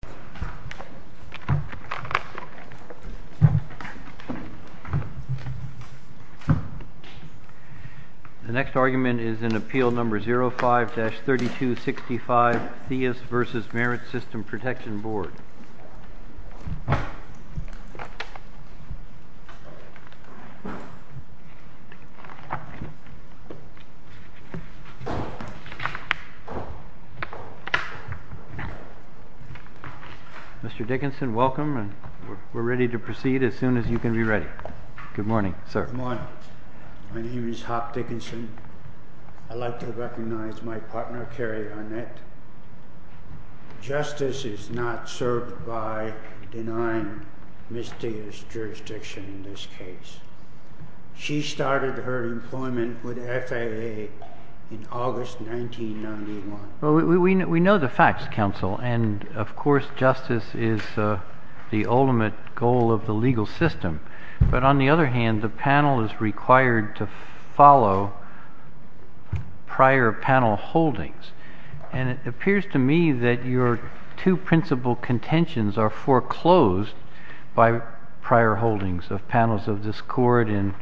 The next argument is in Appeal No. 05-3265, Theus v. Merit System Protection Board. Mr. Dickinson, welcome, and we're ready to proceed as soon as you can be ready. Good morning, sir. Good morning. My name is Hop Dickinson. I'd like to recognize my partner, Carrie Arnett. Justice is not served by denying Ms. Theus' jurisdiction in this case. She started her employment with FAA in August 1991. We know the facts, Counsel, and of course justice is the ultimate goal of the legal system. But on the other hand, the panel is required to follow prior panel holdings. And it appears to me that your two principal contentions are foreclosed by prior holdings of panels of this Court in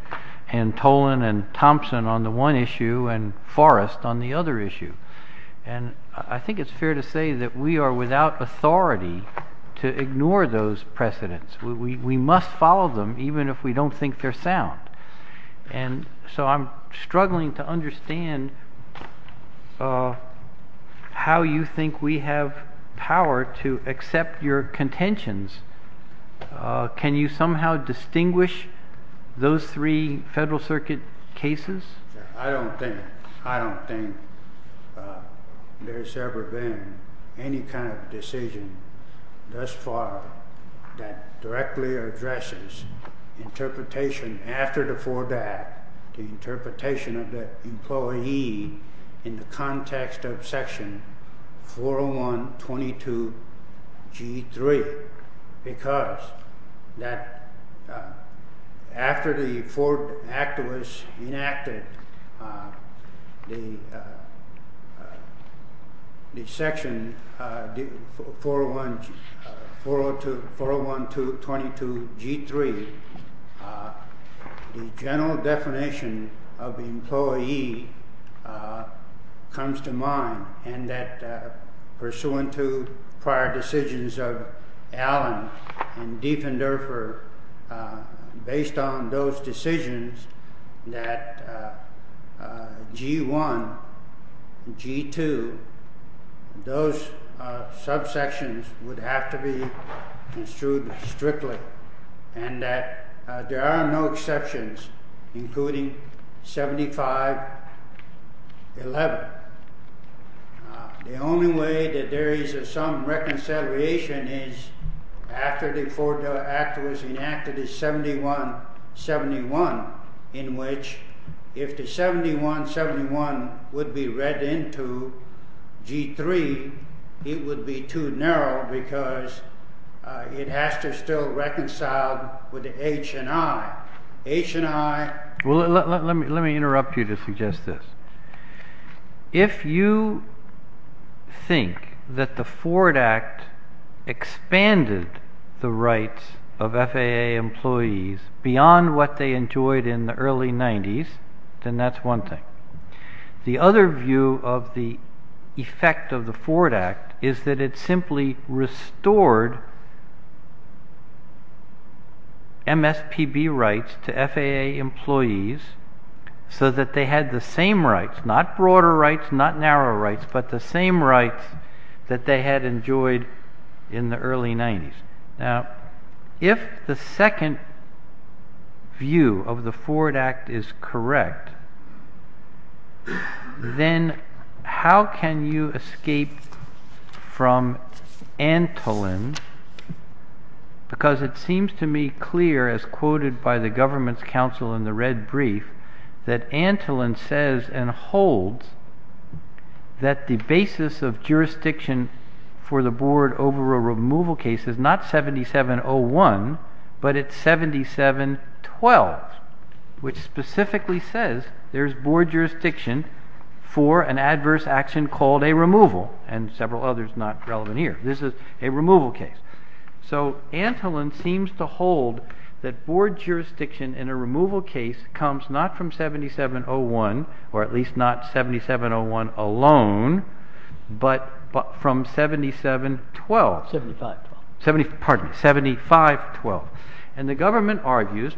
Antolin and Thompson on the one issue and Forrest on the other issue. And I think it's fair to say that we are without authority to ignore those precedents. We must follow them even if we don't think they're sound. And so I'm struggling to understand how you think we have power to accept your contentions. Can you somehow distinguish those three Federal Circuit cases? I don't think, I don't think there's ever been any kind of decision thus far that directly addresses interpretation after the Ford Act, the interpretation of the employee in the context of the section 401-22-G3. The general definition of the employee comes to mind and that pursuant to prior decisions of Allen and Dieffenderfer, based on those decisions that G-1, G-2, those subsections would have to be construed strictly and that there are no exceptions including 75-11. The only way that there is some reconciliation is after the Ford Act was enacted is 71-71, in which if the 71-71 would be read into G-3, it would be too narrow because it has to still reconcile with the H&I. H&I... the rights of FAA employees beyond what they enjoyed in the early 90s, then that's one thing. The other view of the effect of the Ford Act is that it simply restored MSPB rights to FAA employees so that they had the same rights, not broader rights, not narrow rights, but the same rights that they had enjoyed in the early 90s. Now, if the second view of the Ford Act is correct, then how can you escape from Antolin because it seems to me clear as quoted by the government's counsel in the red brief that Antolin says and holds that the basis of jurisdiction for the board over a removal case is not 77-01, but it's 77-12, which specifically says there's board jurisdiction for an adverse action called a removal and several others not relevant here. This is a removal case. So Antolin seems to hold that board jurisdiction in a removal case comes not from 77-01 or at least not 77-01 alone, but from 77-12. 75-12. Pardon me, 75-12. And the government argues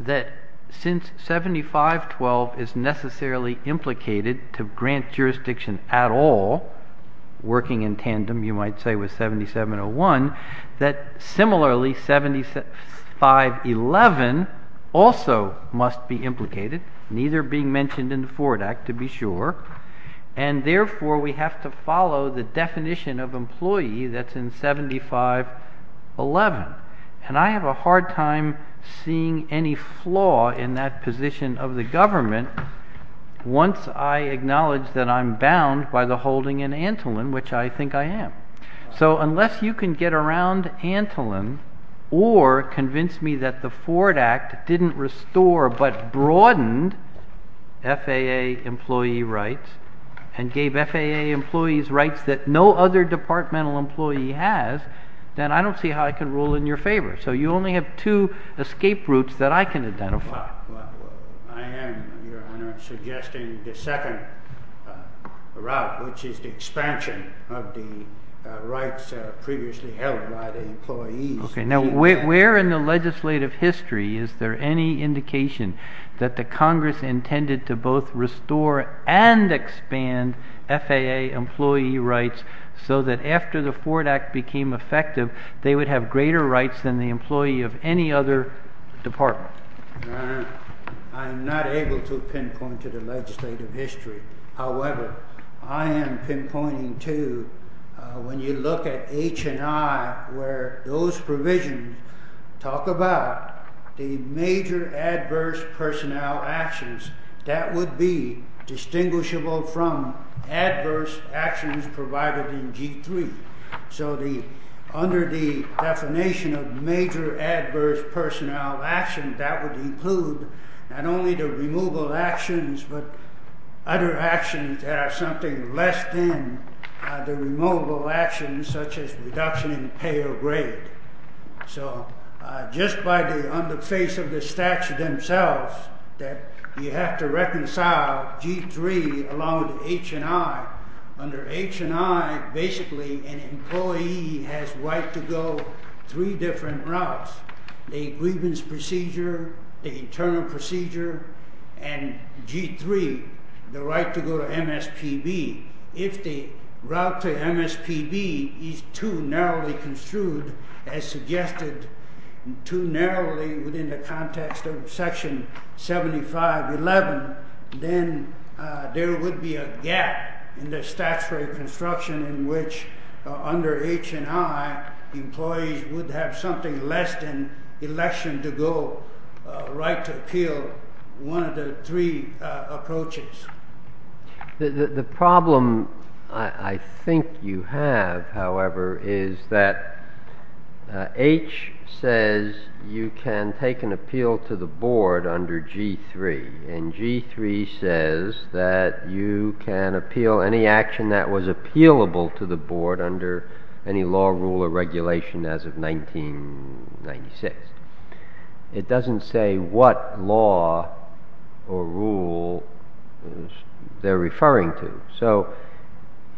that since 75-12 is necessarily implicated to grant jurisdiction at all working in tandem, you might say with 77-01, that similarly 75-11 also must be implicated, neither being mentioned in the Ford Act, to be sure. And therefore, we have to follow the definition of employee that's in 75-11. And I have a hard time seeing any flaw in that position of the government once I acknowledge that I'm bound by the holding in Antolin, which I think I am. So unless you can get around Antolin or convince me that the Ford Act didn't restore but broadened FAA employee rights and gave FAA employees rights that no other departmental employee has, then I don't see how I can rule in your favor. So you only have two escape routes that I can suggest in the second route, which is the expansion of the rights previously held by the employees. Okay. Now, where in the legislative history is there any indication that the Congress intended to both restore and expand FAA employee rights so that after the Ford Act became effective, they would have greater rights than the employee of any other department? I'm not able to pinpoint to the legislative history. However, I am pinpointing, too, when you look at H&I, where those provisions talk about the major adverse personnel actions, that would be distinguishable from adverse actions provided in G3. So under the definition of major adverse personnel actions, that would include not only the removal actions, but other actions that are something less than the removal actions, such as reduction in pay or grade. So just by the on the face of the statute themselves that you have to reconcile G3 along with H&I. Under H&I, basically, an employee has right to go three different routes, the grievance procedure, the internal procedure, and G3, the right to go to MSPB. If the route to MSPB is too narrowly construed, as suggested, too narrowly within the context of Section 7511, then there would be a gap in the statutory construction in which under H&I employees would have something less than election to go right to appeal one of the three approaches. The problem I think you have, however, is that H says you can take an appeal to the board under G3, and G3 says that you can appeal any action that was appealable to the board under any law, rule, or regulation as of 1996. It doesn't say what law or rule they're referring to. So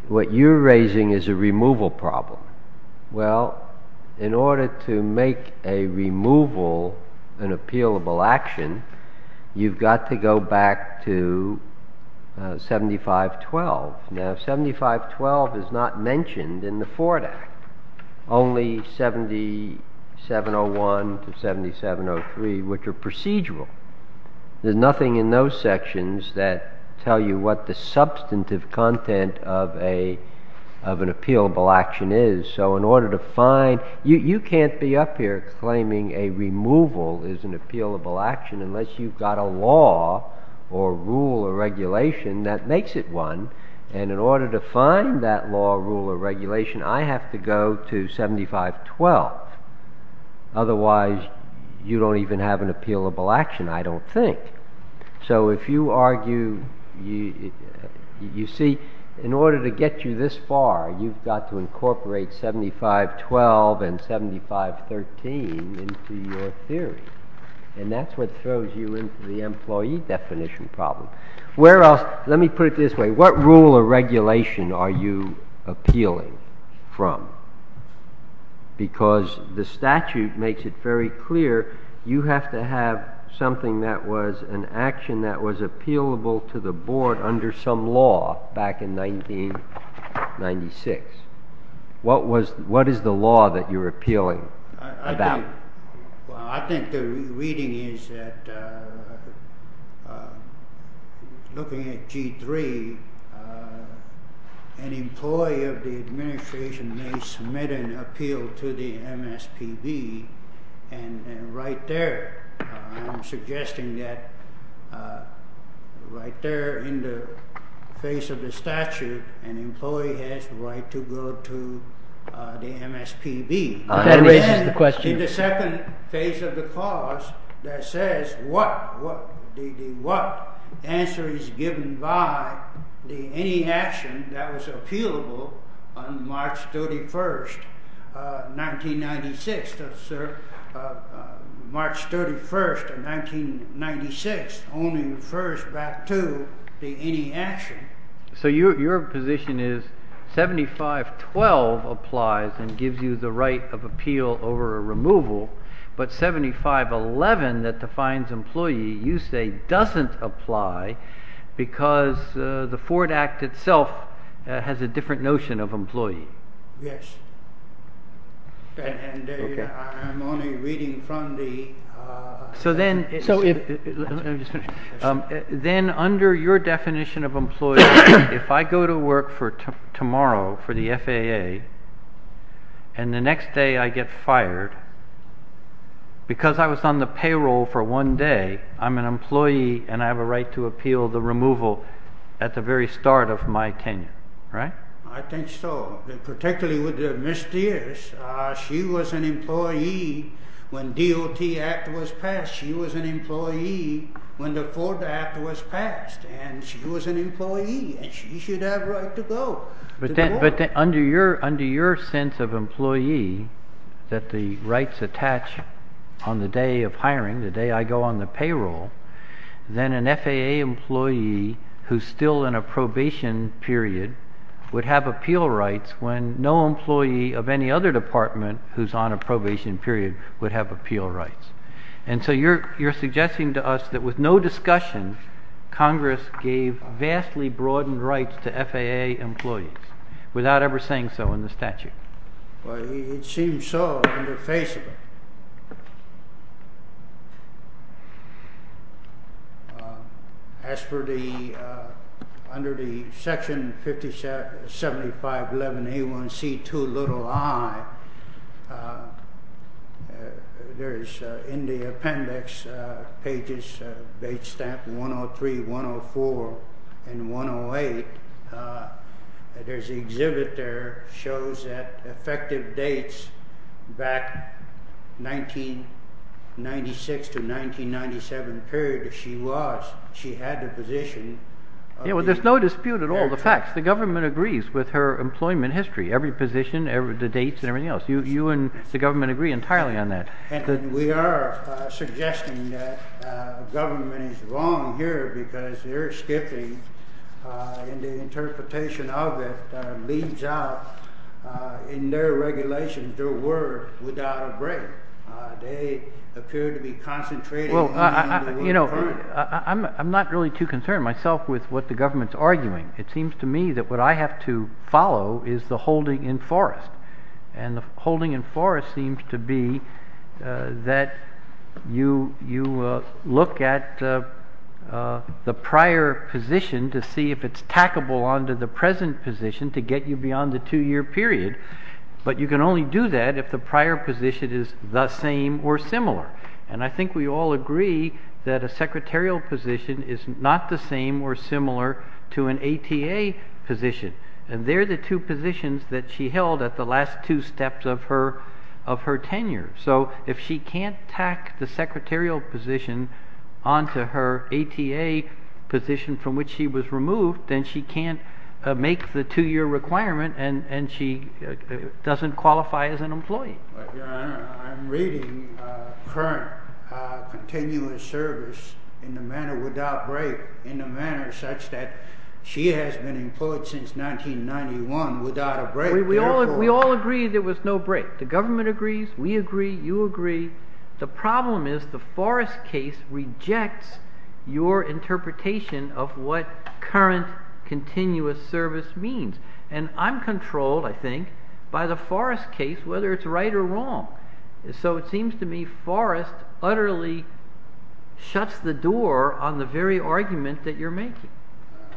what you're raising is a removal problem. Well, in order to make a removal an appealable action, you've got to go back to 7512. Now 7512 is not mentioned in the Ford Act. Only 7701 to 7703, which are procedural. There's nothing in those sections that tell you what the substantive content of an appealable action is. So in order to find, you can't be up here claiming a removal is an appealable action unless you've got a law or rule or regulation that makes it one. And in order to find that law, rule, or regulation, I have to go to 7512. Otherwise, you don't even have an appealable action, I don't think. So if you argue, you see, in order to get you this far, you've got to incorporate 7512 and 7513 into your theory. And that's what throws you into the employee definition problem. Let me put it this way. What rule or regulation are you appealing from? Because the statute makes it very clear, you have to have something that was an action that was appealable to the board under some law back in 1996. What is the law that you're appealing about? Well, I think the reading is that looking at G3, an employee of the administration may submit an appeal to the MSPB. And right there, I'm suggesting that right there in the face of the statute, an employee has the right to go to the MSPB. That raises the question. In the second phase of the clause that says what answer is given by the any action that was appealable on March 31, 1996. March 31, 1996 only refers back to the any action. So your position is 7512 applies and gives you the right of appeal over a removal, but 7511 that defines employee, you say doesn't apply because the Ford Act itself has a different notion of employee. Then under your definition of employee, if I go to work for tomorrow for the FAA and the next day I get fired because I was on the payroll for one day, I'm an employee and have a right to appeal the removal at the very start of my tenure, right? I think so. Particularly with Ms. Dears, she was an employee when DOT Act was passed. She was an employee when the Ford Act was passed and she was an employee and she should have right to go. But under your sense of employee that the rights attach on the day of hiring, the day I go on the payroll, then an FAA employee who's still in a probation period would have appeal rights when no employee of any other department who's on a probation period would have appeal rights. And so you're suggesting to us that with no discussion, Congress gave vastly broadened rights to FAA employees without ever saying so in the statute. Well, it seems so under Facebook. As for the, under the Section 7511A1C2i, there's in the appendix pages, date stamp 103, 104, and 108, there's an exhibit there shows that effective dates back 1996 to 1997 period, if she was, she had the position. Yeah, well, there's no dispute at all. The facts, the government agrees with her employment history, every position, the dates and everything else. You and the government agree entirely on that. And we are suggesting that government is wrong here because they're skipping and the interpretation of it leaves out in their regulations their word without a break. They appear to be concentrating. Well, you know, I'm not really too concerned myself with what the government's arguing. It seems to me that what I have to follow is the holding in forest. And the to see if it's tackable onto the present position to get you beyond the two year period. But you can only do that if the prior position is the same or similar. And I think we all agree that a secretarial position is not the same or similar to an ATA position. And they're the two positions that she held at the last two steps of her tenure. So if she can't tack the secretarial position onto her ATA position from which she was removed, then she can't make the two year requirement and she doesn't qualify as an employee. I'm reading current continuous service in a manner without break in a manner such that she has been employed since 1991 without a break. We all agree there was no break. The government agrees. We agree. You agree. The problem is the case rejects your interpretation of what current continuous service means. And I'm controlled, I think, by the forest case, whether it's right or wrong. So it seems to me forest utterly shuts the door on the very argument that you're making.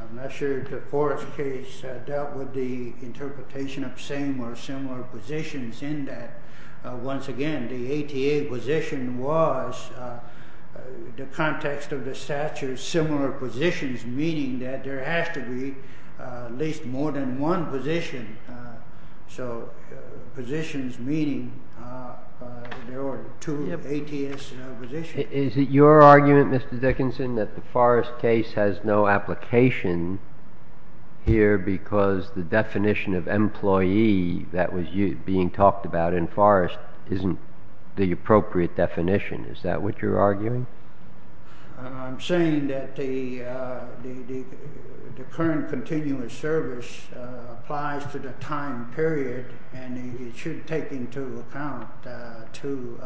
I'm not sure the forest case dealt with interpretation of same or similar positions in that. Once again, the ATA position was the context of the statute, similar positions, meaning that there has to be at least more than one position. So positions meaning there are two ATS positions. Is it your argument, Mr. Dickinson, that the forest case has no application here because the definition of employee that was being talked about in forest isn't the appropriate definition? Is that what you're arguing? I'm saying that the current continuous service applies to the time period and it should take into account two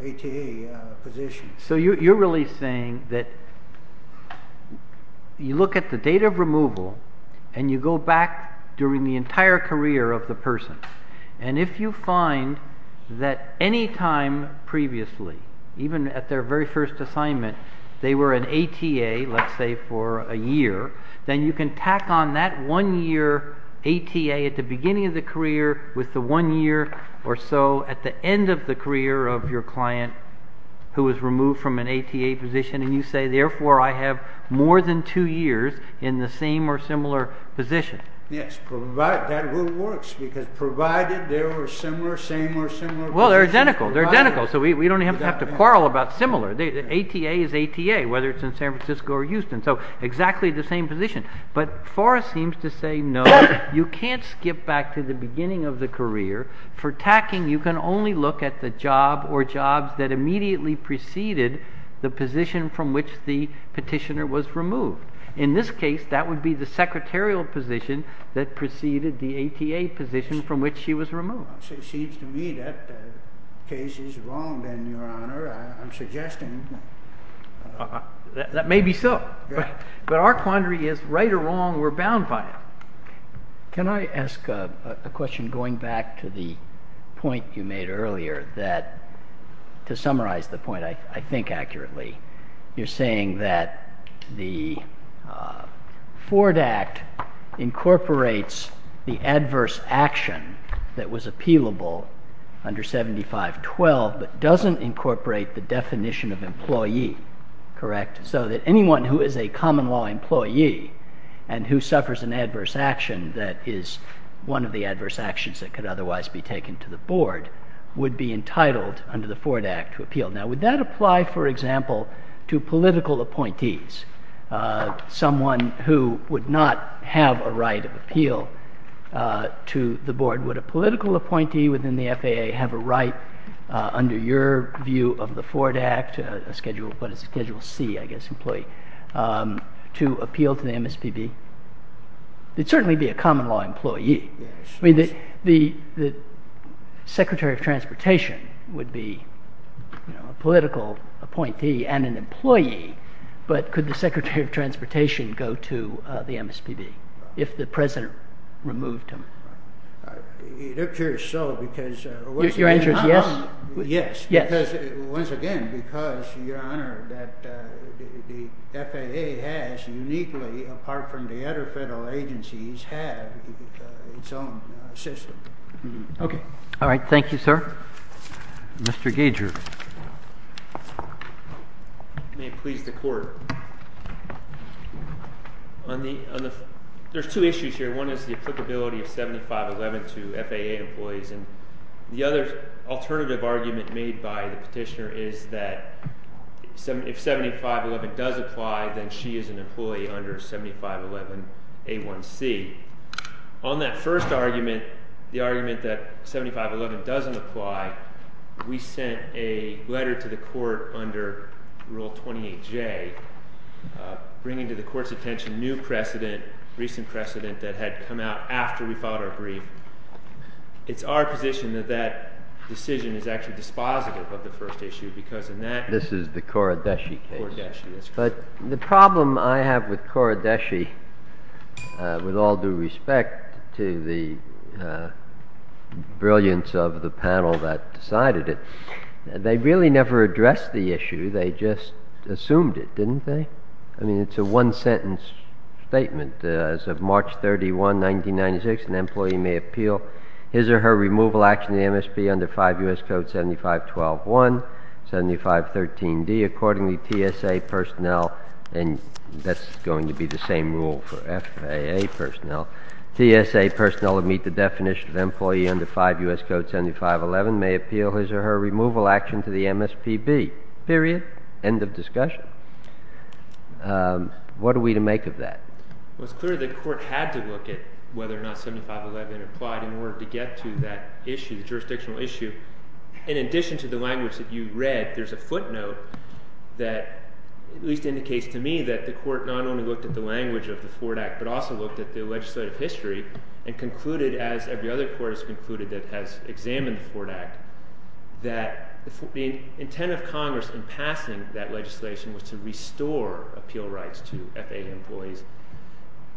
ATA positions. So you're really saying that you look at the date of removal and you go back during the entire career of the person. And if you find that any time previously, even at their very first assignment, they were an ATA, let's say for a year, then you can tack on that one year ATA at the beginning of the career with the one year or so at the end of the career of your client who was removed from an ATA position. And you say, therefore, I have more than two years in the same or similar position. Yes. Provided that works because provided they were similar, same or similar. Well, they're identical. They're identical. So we don't even have to quarrel about similar. The ATA is ATA, whether it's in San position, but forest seems to say, no, you can't skip back to the beginning of the career for tacking. You can only look at the job or jobs that immediately preceded the position from which the petitioner was removed. In this case, that would be the secretarial position that preceded the ATA position from which she was removed. So it seems to me that the case is wrong. Then your honor, I'm suggesting that maybe so, but our quandary is right or wrong. We're bound by it. Can I ask a question going back to the point you made earlier that to summarize the point, I think accurately, you're saying that the Ford act incorporates the adverse action that was incorporate the definition of employee, correct? So that anyone who is a common law employee and who suffers an adverse action, that is one of the adverse actions that could otherwise be taken to the board would be entitled under the Ford act to appeal. Now, would that apply, for example, to political appointees? Someone who would not have a right of appeal to the board, would a political appointee within the FAA have a right under your view of the Ford act schedule, but it's a schedule C, I guess, employee to appeal to the MSPB. It'd certainly be a common law employee. I mean, the secretary of transportation would be a political appointee and an employee, but could the secretary of transportation go to the MSPB if the president removed him? It appears so because once again, because your honor, that the FAA has uniquely apart from the other federal agencies have its own system. Okay. All right. Thank you, sir. Mr. Gager. May it please the court. On the, there's two issues here. One is the applicability of 7511 to FAA employees. And the other alternative argument made by the petitioner is that if 7511 does apply, then she is an employee under 7511 A1C. On that first argument, the argument that 7511 doesn't apply, we sent a letter to the court under rule 28 J bringing to the court's attention, new precedent, recent precedent that had come out after we filed our brief. It's our position that that decision is actually dispositive of the first issue because of that. This is the core of that. But the problem I have with core Deshi with all due respect to the brilliance of the that decided it, they really never addressed the issue. They just assumed it. Didn't they? I mean, it's a one sentence statement as of March 31, 1996, an employee may appeal his or her removal action. The MSP under five us code 75, 12, one 75, 13 D accordingly TSA personnel. And that's going to be the same rule for FAA personnel, TSA personnel would meet the definition of employee under five us code 7511 may appeal his or her removal action to the MSPB period. End of discussion. What are we to make of that? Well, it's clear that the court had to look at whether or not 7511 applied in order to get to that issue, the jurisdictional issue. In addition to the language that you read, there's a footnote that at least indicates to me that the court not only looked at the language of the Ford Act, but also looked at the legislative history and concluded, as every other court has concluded that has examined the Ford Act, that the intent of Congress in passing that legislation was to restore appeal rights to FAA employees.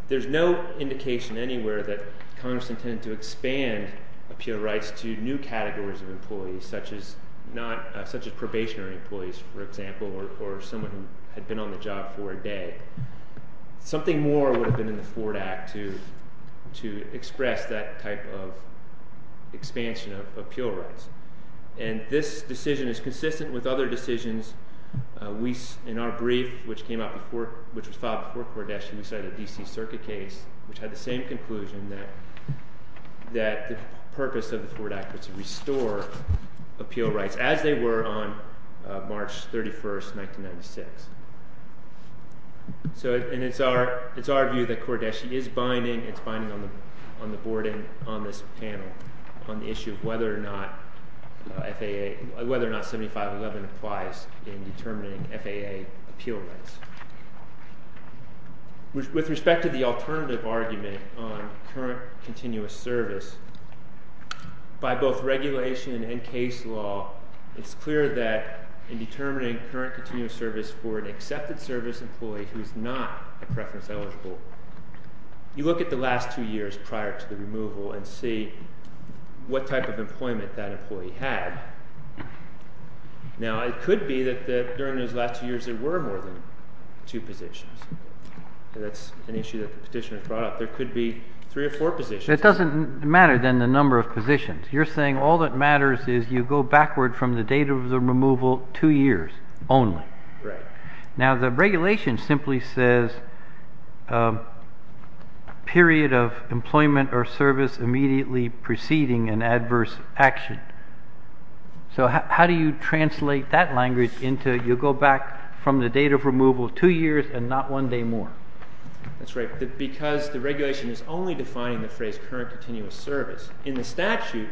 There's no indication anywhere that Congress intended to expand appeal rights to new categories of employees, such as not such as probationary employees, for example, or someone had been on the job for a day. Something more would have been in the Ford Act to to express that type of expansion of appeal rights. And this decision is consistent with other decisions. We, in our brief, which came out before, which was filed before Cordesia, we cited a DC circuit case, which had the same conclusion that that the purpose of the Ford Act was to restore appeal rights, as they were on March 31st, 1996. So it's our view that Cordesia is binding, it's binding on the on the board and on this panel, on the issue of whether or not 7511 applies in determining FAA appeal rights. With respect to the alternative argument on current continuous service, by both regulation and case law, it's clear that in determining current continuous service for an accepted service employee who is not a preference eligible, you look at the last two years prior to the removal and see what type of employment that employee had. Now, it could be that during those last two years, there were more than two positions. That's an issue that the petitioner brought up. There could be three or four positions. It doesn't matter than the number of positions. You're saying all that matters is you go backward from the date of the removal two years only. Right. Now, the regulation simply says period of employment or service immediately preceding an adverse action. So how do you translate that language into you go back from the date of removal two years and not one day more? That's right. Because the regulation is only defining the phrase current continuous service. In the statute,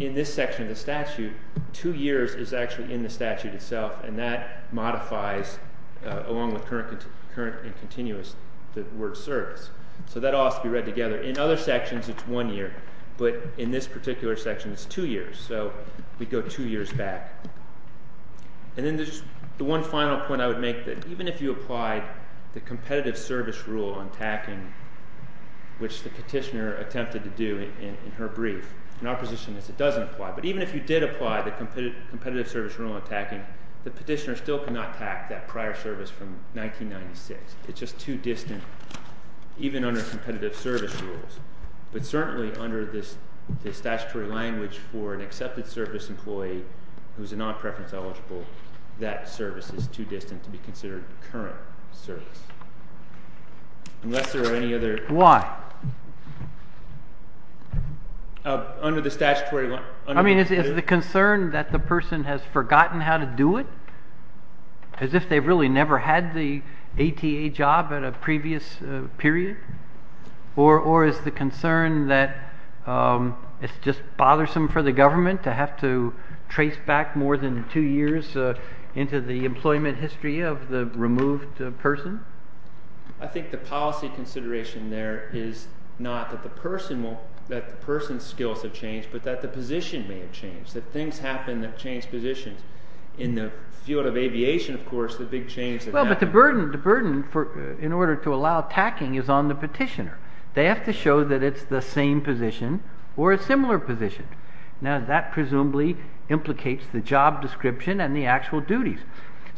in this section of the statute, two years is actually in the statute itself, and that modifies along with current and continuous, the word service. So that all has to be read together. In other sections, it's one year. But in this particular section, it's two years. So we go two years back. And then there's the one final point I would make that even if you applied the competitive service rule on tacking, which the petitioner attempted to do in her brief, in our position it doesn't apply. But even if you did apply the competitive service rule on tacking, the petitioner still cannot tack that prior service from 1996. It's just too distant, even under competitive service rules. But certainly under this statutory language for an accepted service employee who's a non-preference eligible, that service is too distant to be current service. Unless there are any other... Why? Under the statutory... I mean, is the concern that the person has forgotten how to do it? As if they've really never had the ATA job at a previous period? Or is the concern that it's just bothersome for the government to have to trace back more than two years into the person? I think the policy consideration there is not that the person's skills have changed, but that the position may have changed. That things happen that change positions. In the field of aviation, of course, the big change... Well, but the burden in order to allow tacking is on the petitioner. They have to show that it's the same position or a similar position. Now, that presumably implicates the job description and the actual duties.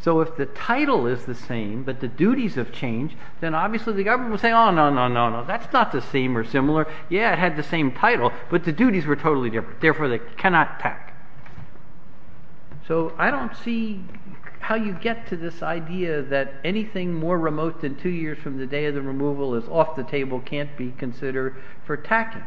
So, if the title is the same, but the duties have changed, then obviously the government will say, oh, no, no, no, no, that's not the same or similar. Yeah, it had the same title, but the duties were totally different. Therefore, they cannot tack. So, I don't see how you get to this idea that anything more remote than two years from the day of the removal is off the table, can't be considered for tacking.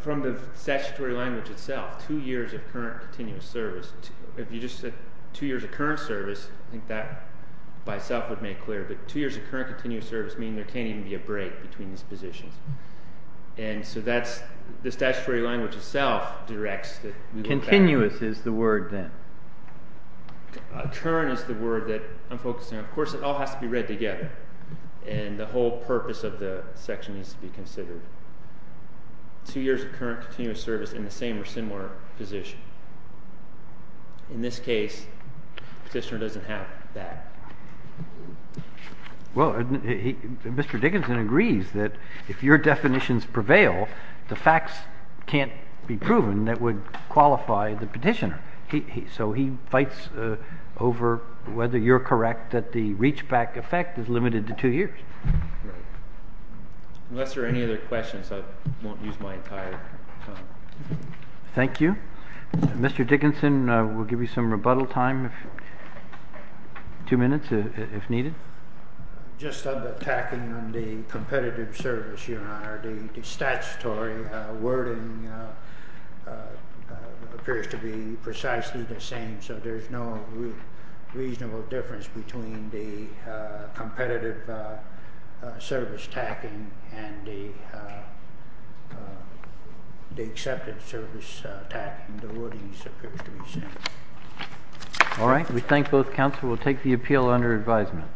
From the statutory language itself, two years of current continuous service. If you just said two years of current service, I think that by itself would make clear, but two years of current continuous service mean there can't even be a break between these positions. And so that's the statutory language itself directs that... Continuous is the word then. Current is the word that I'm focusing on. Of course, it all has to be read together. And the whole purpose of the section needs to be considered. Two years of current continuous service in the same or similar position. In this case, petitioner doesn't have that. Well, Mr. Dickinson agrees that if your definitions prevail, the facts can't be proven that would qualify the petitioner. So, he fights over whether you're correct that the reachback effect is limited to two years. Unless there are any other questions, I won't use my entire time. Thank you. Mr. Dickinson, we'll give you some rebuttal time, two minutes if needed. Just on the tacking on the competitive service, Your Honor, the statutory wording appears to be precisely the same. So, there's no reasonable difference between the competitive service tacking and the accepted service tacking. The wordings appear to be the same. All right. We thank both counsel. We'll take the appeal under advisement.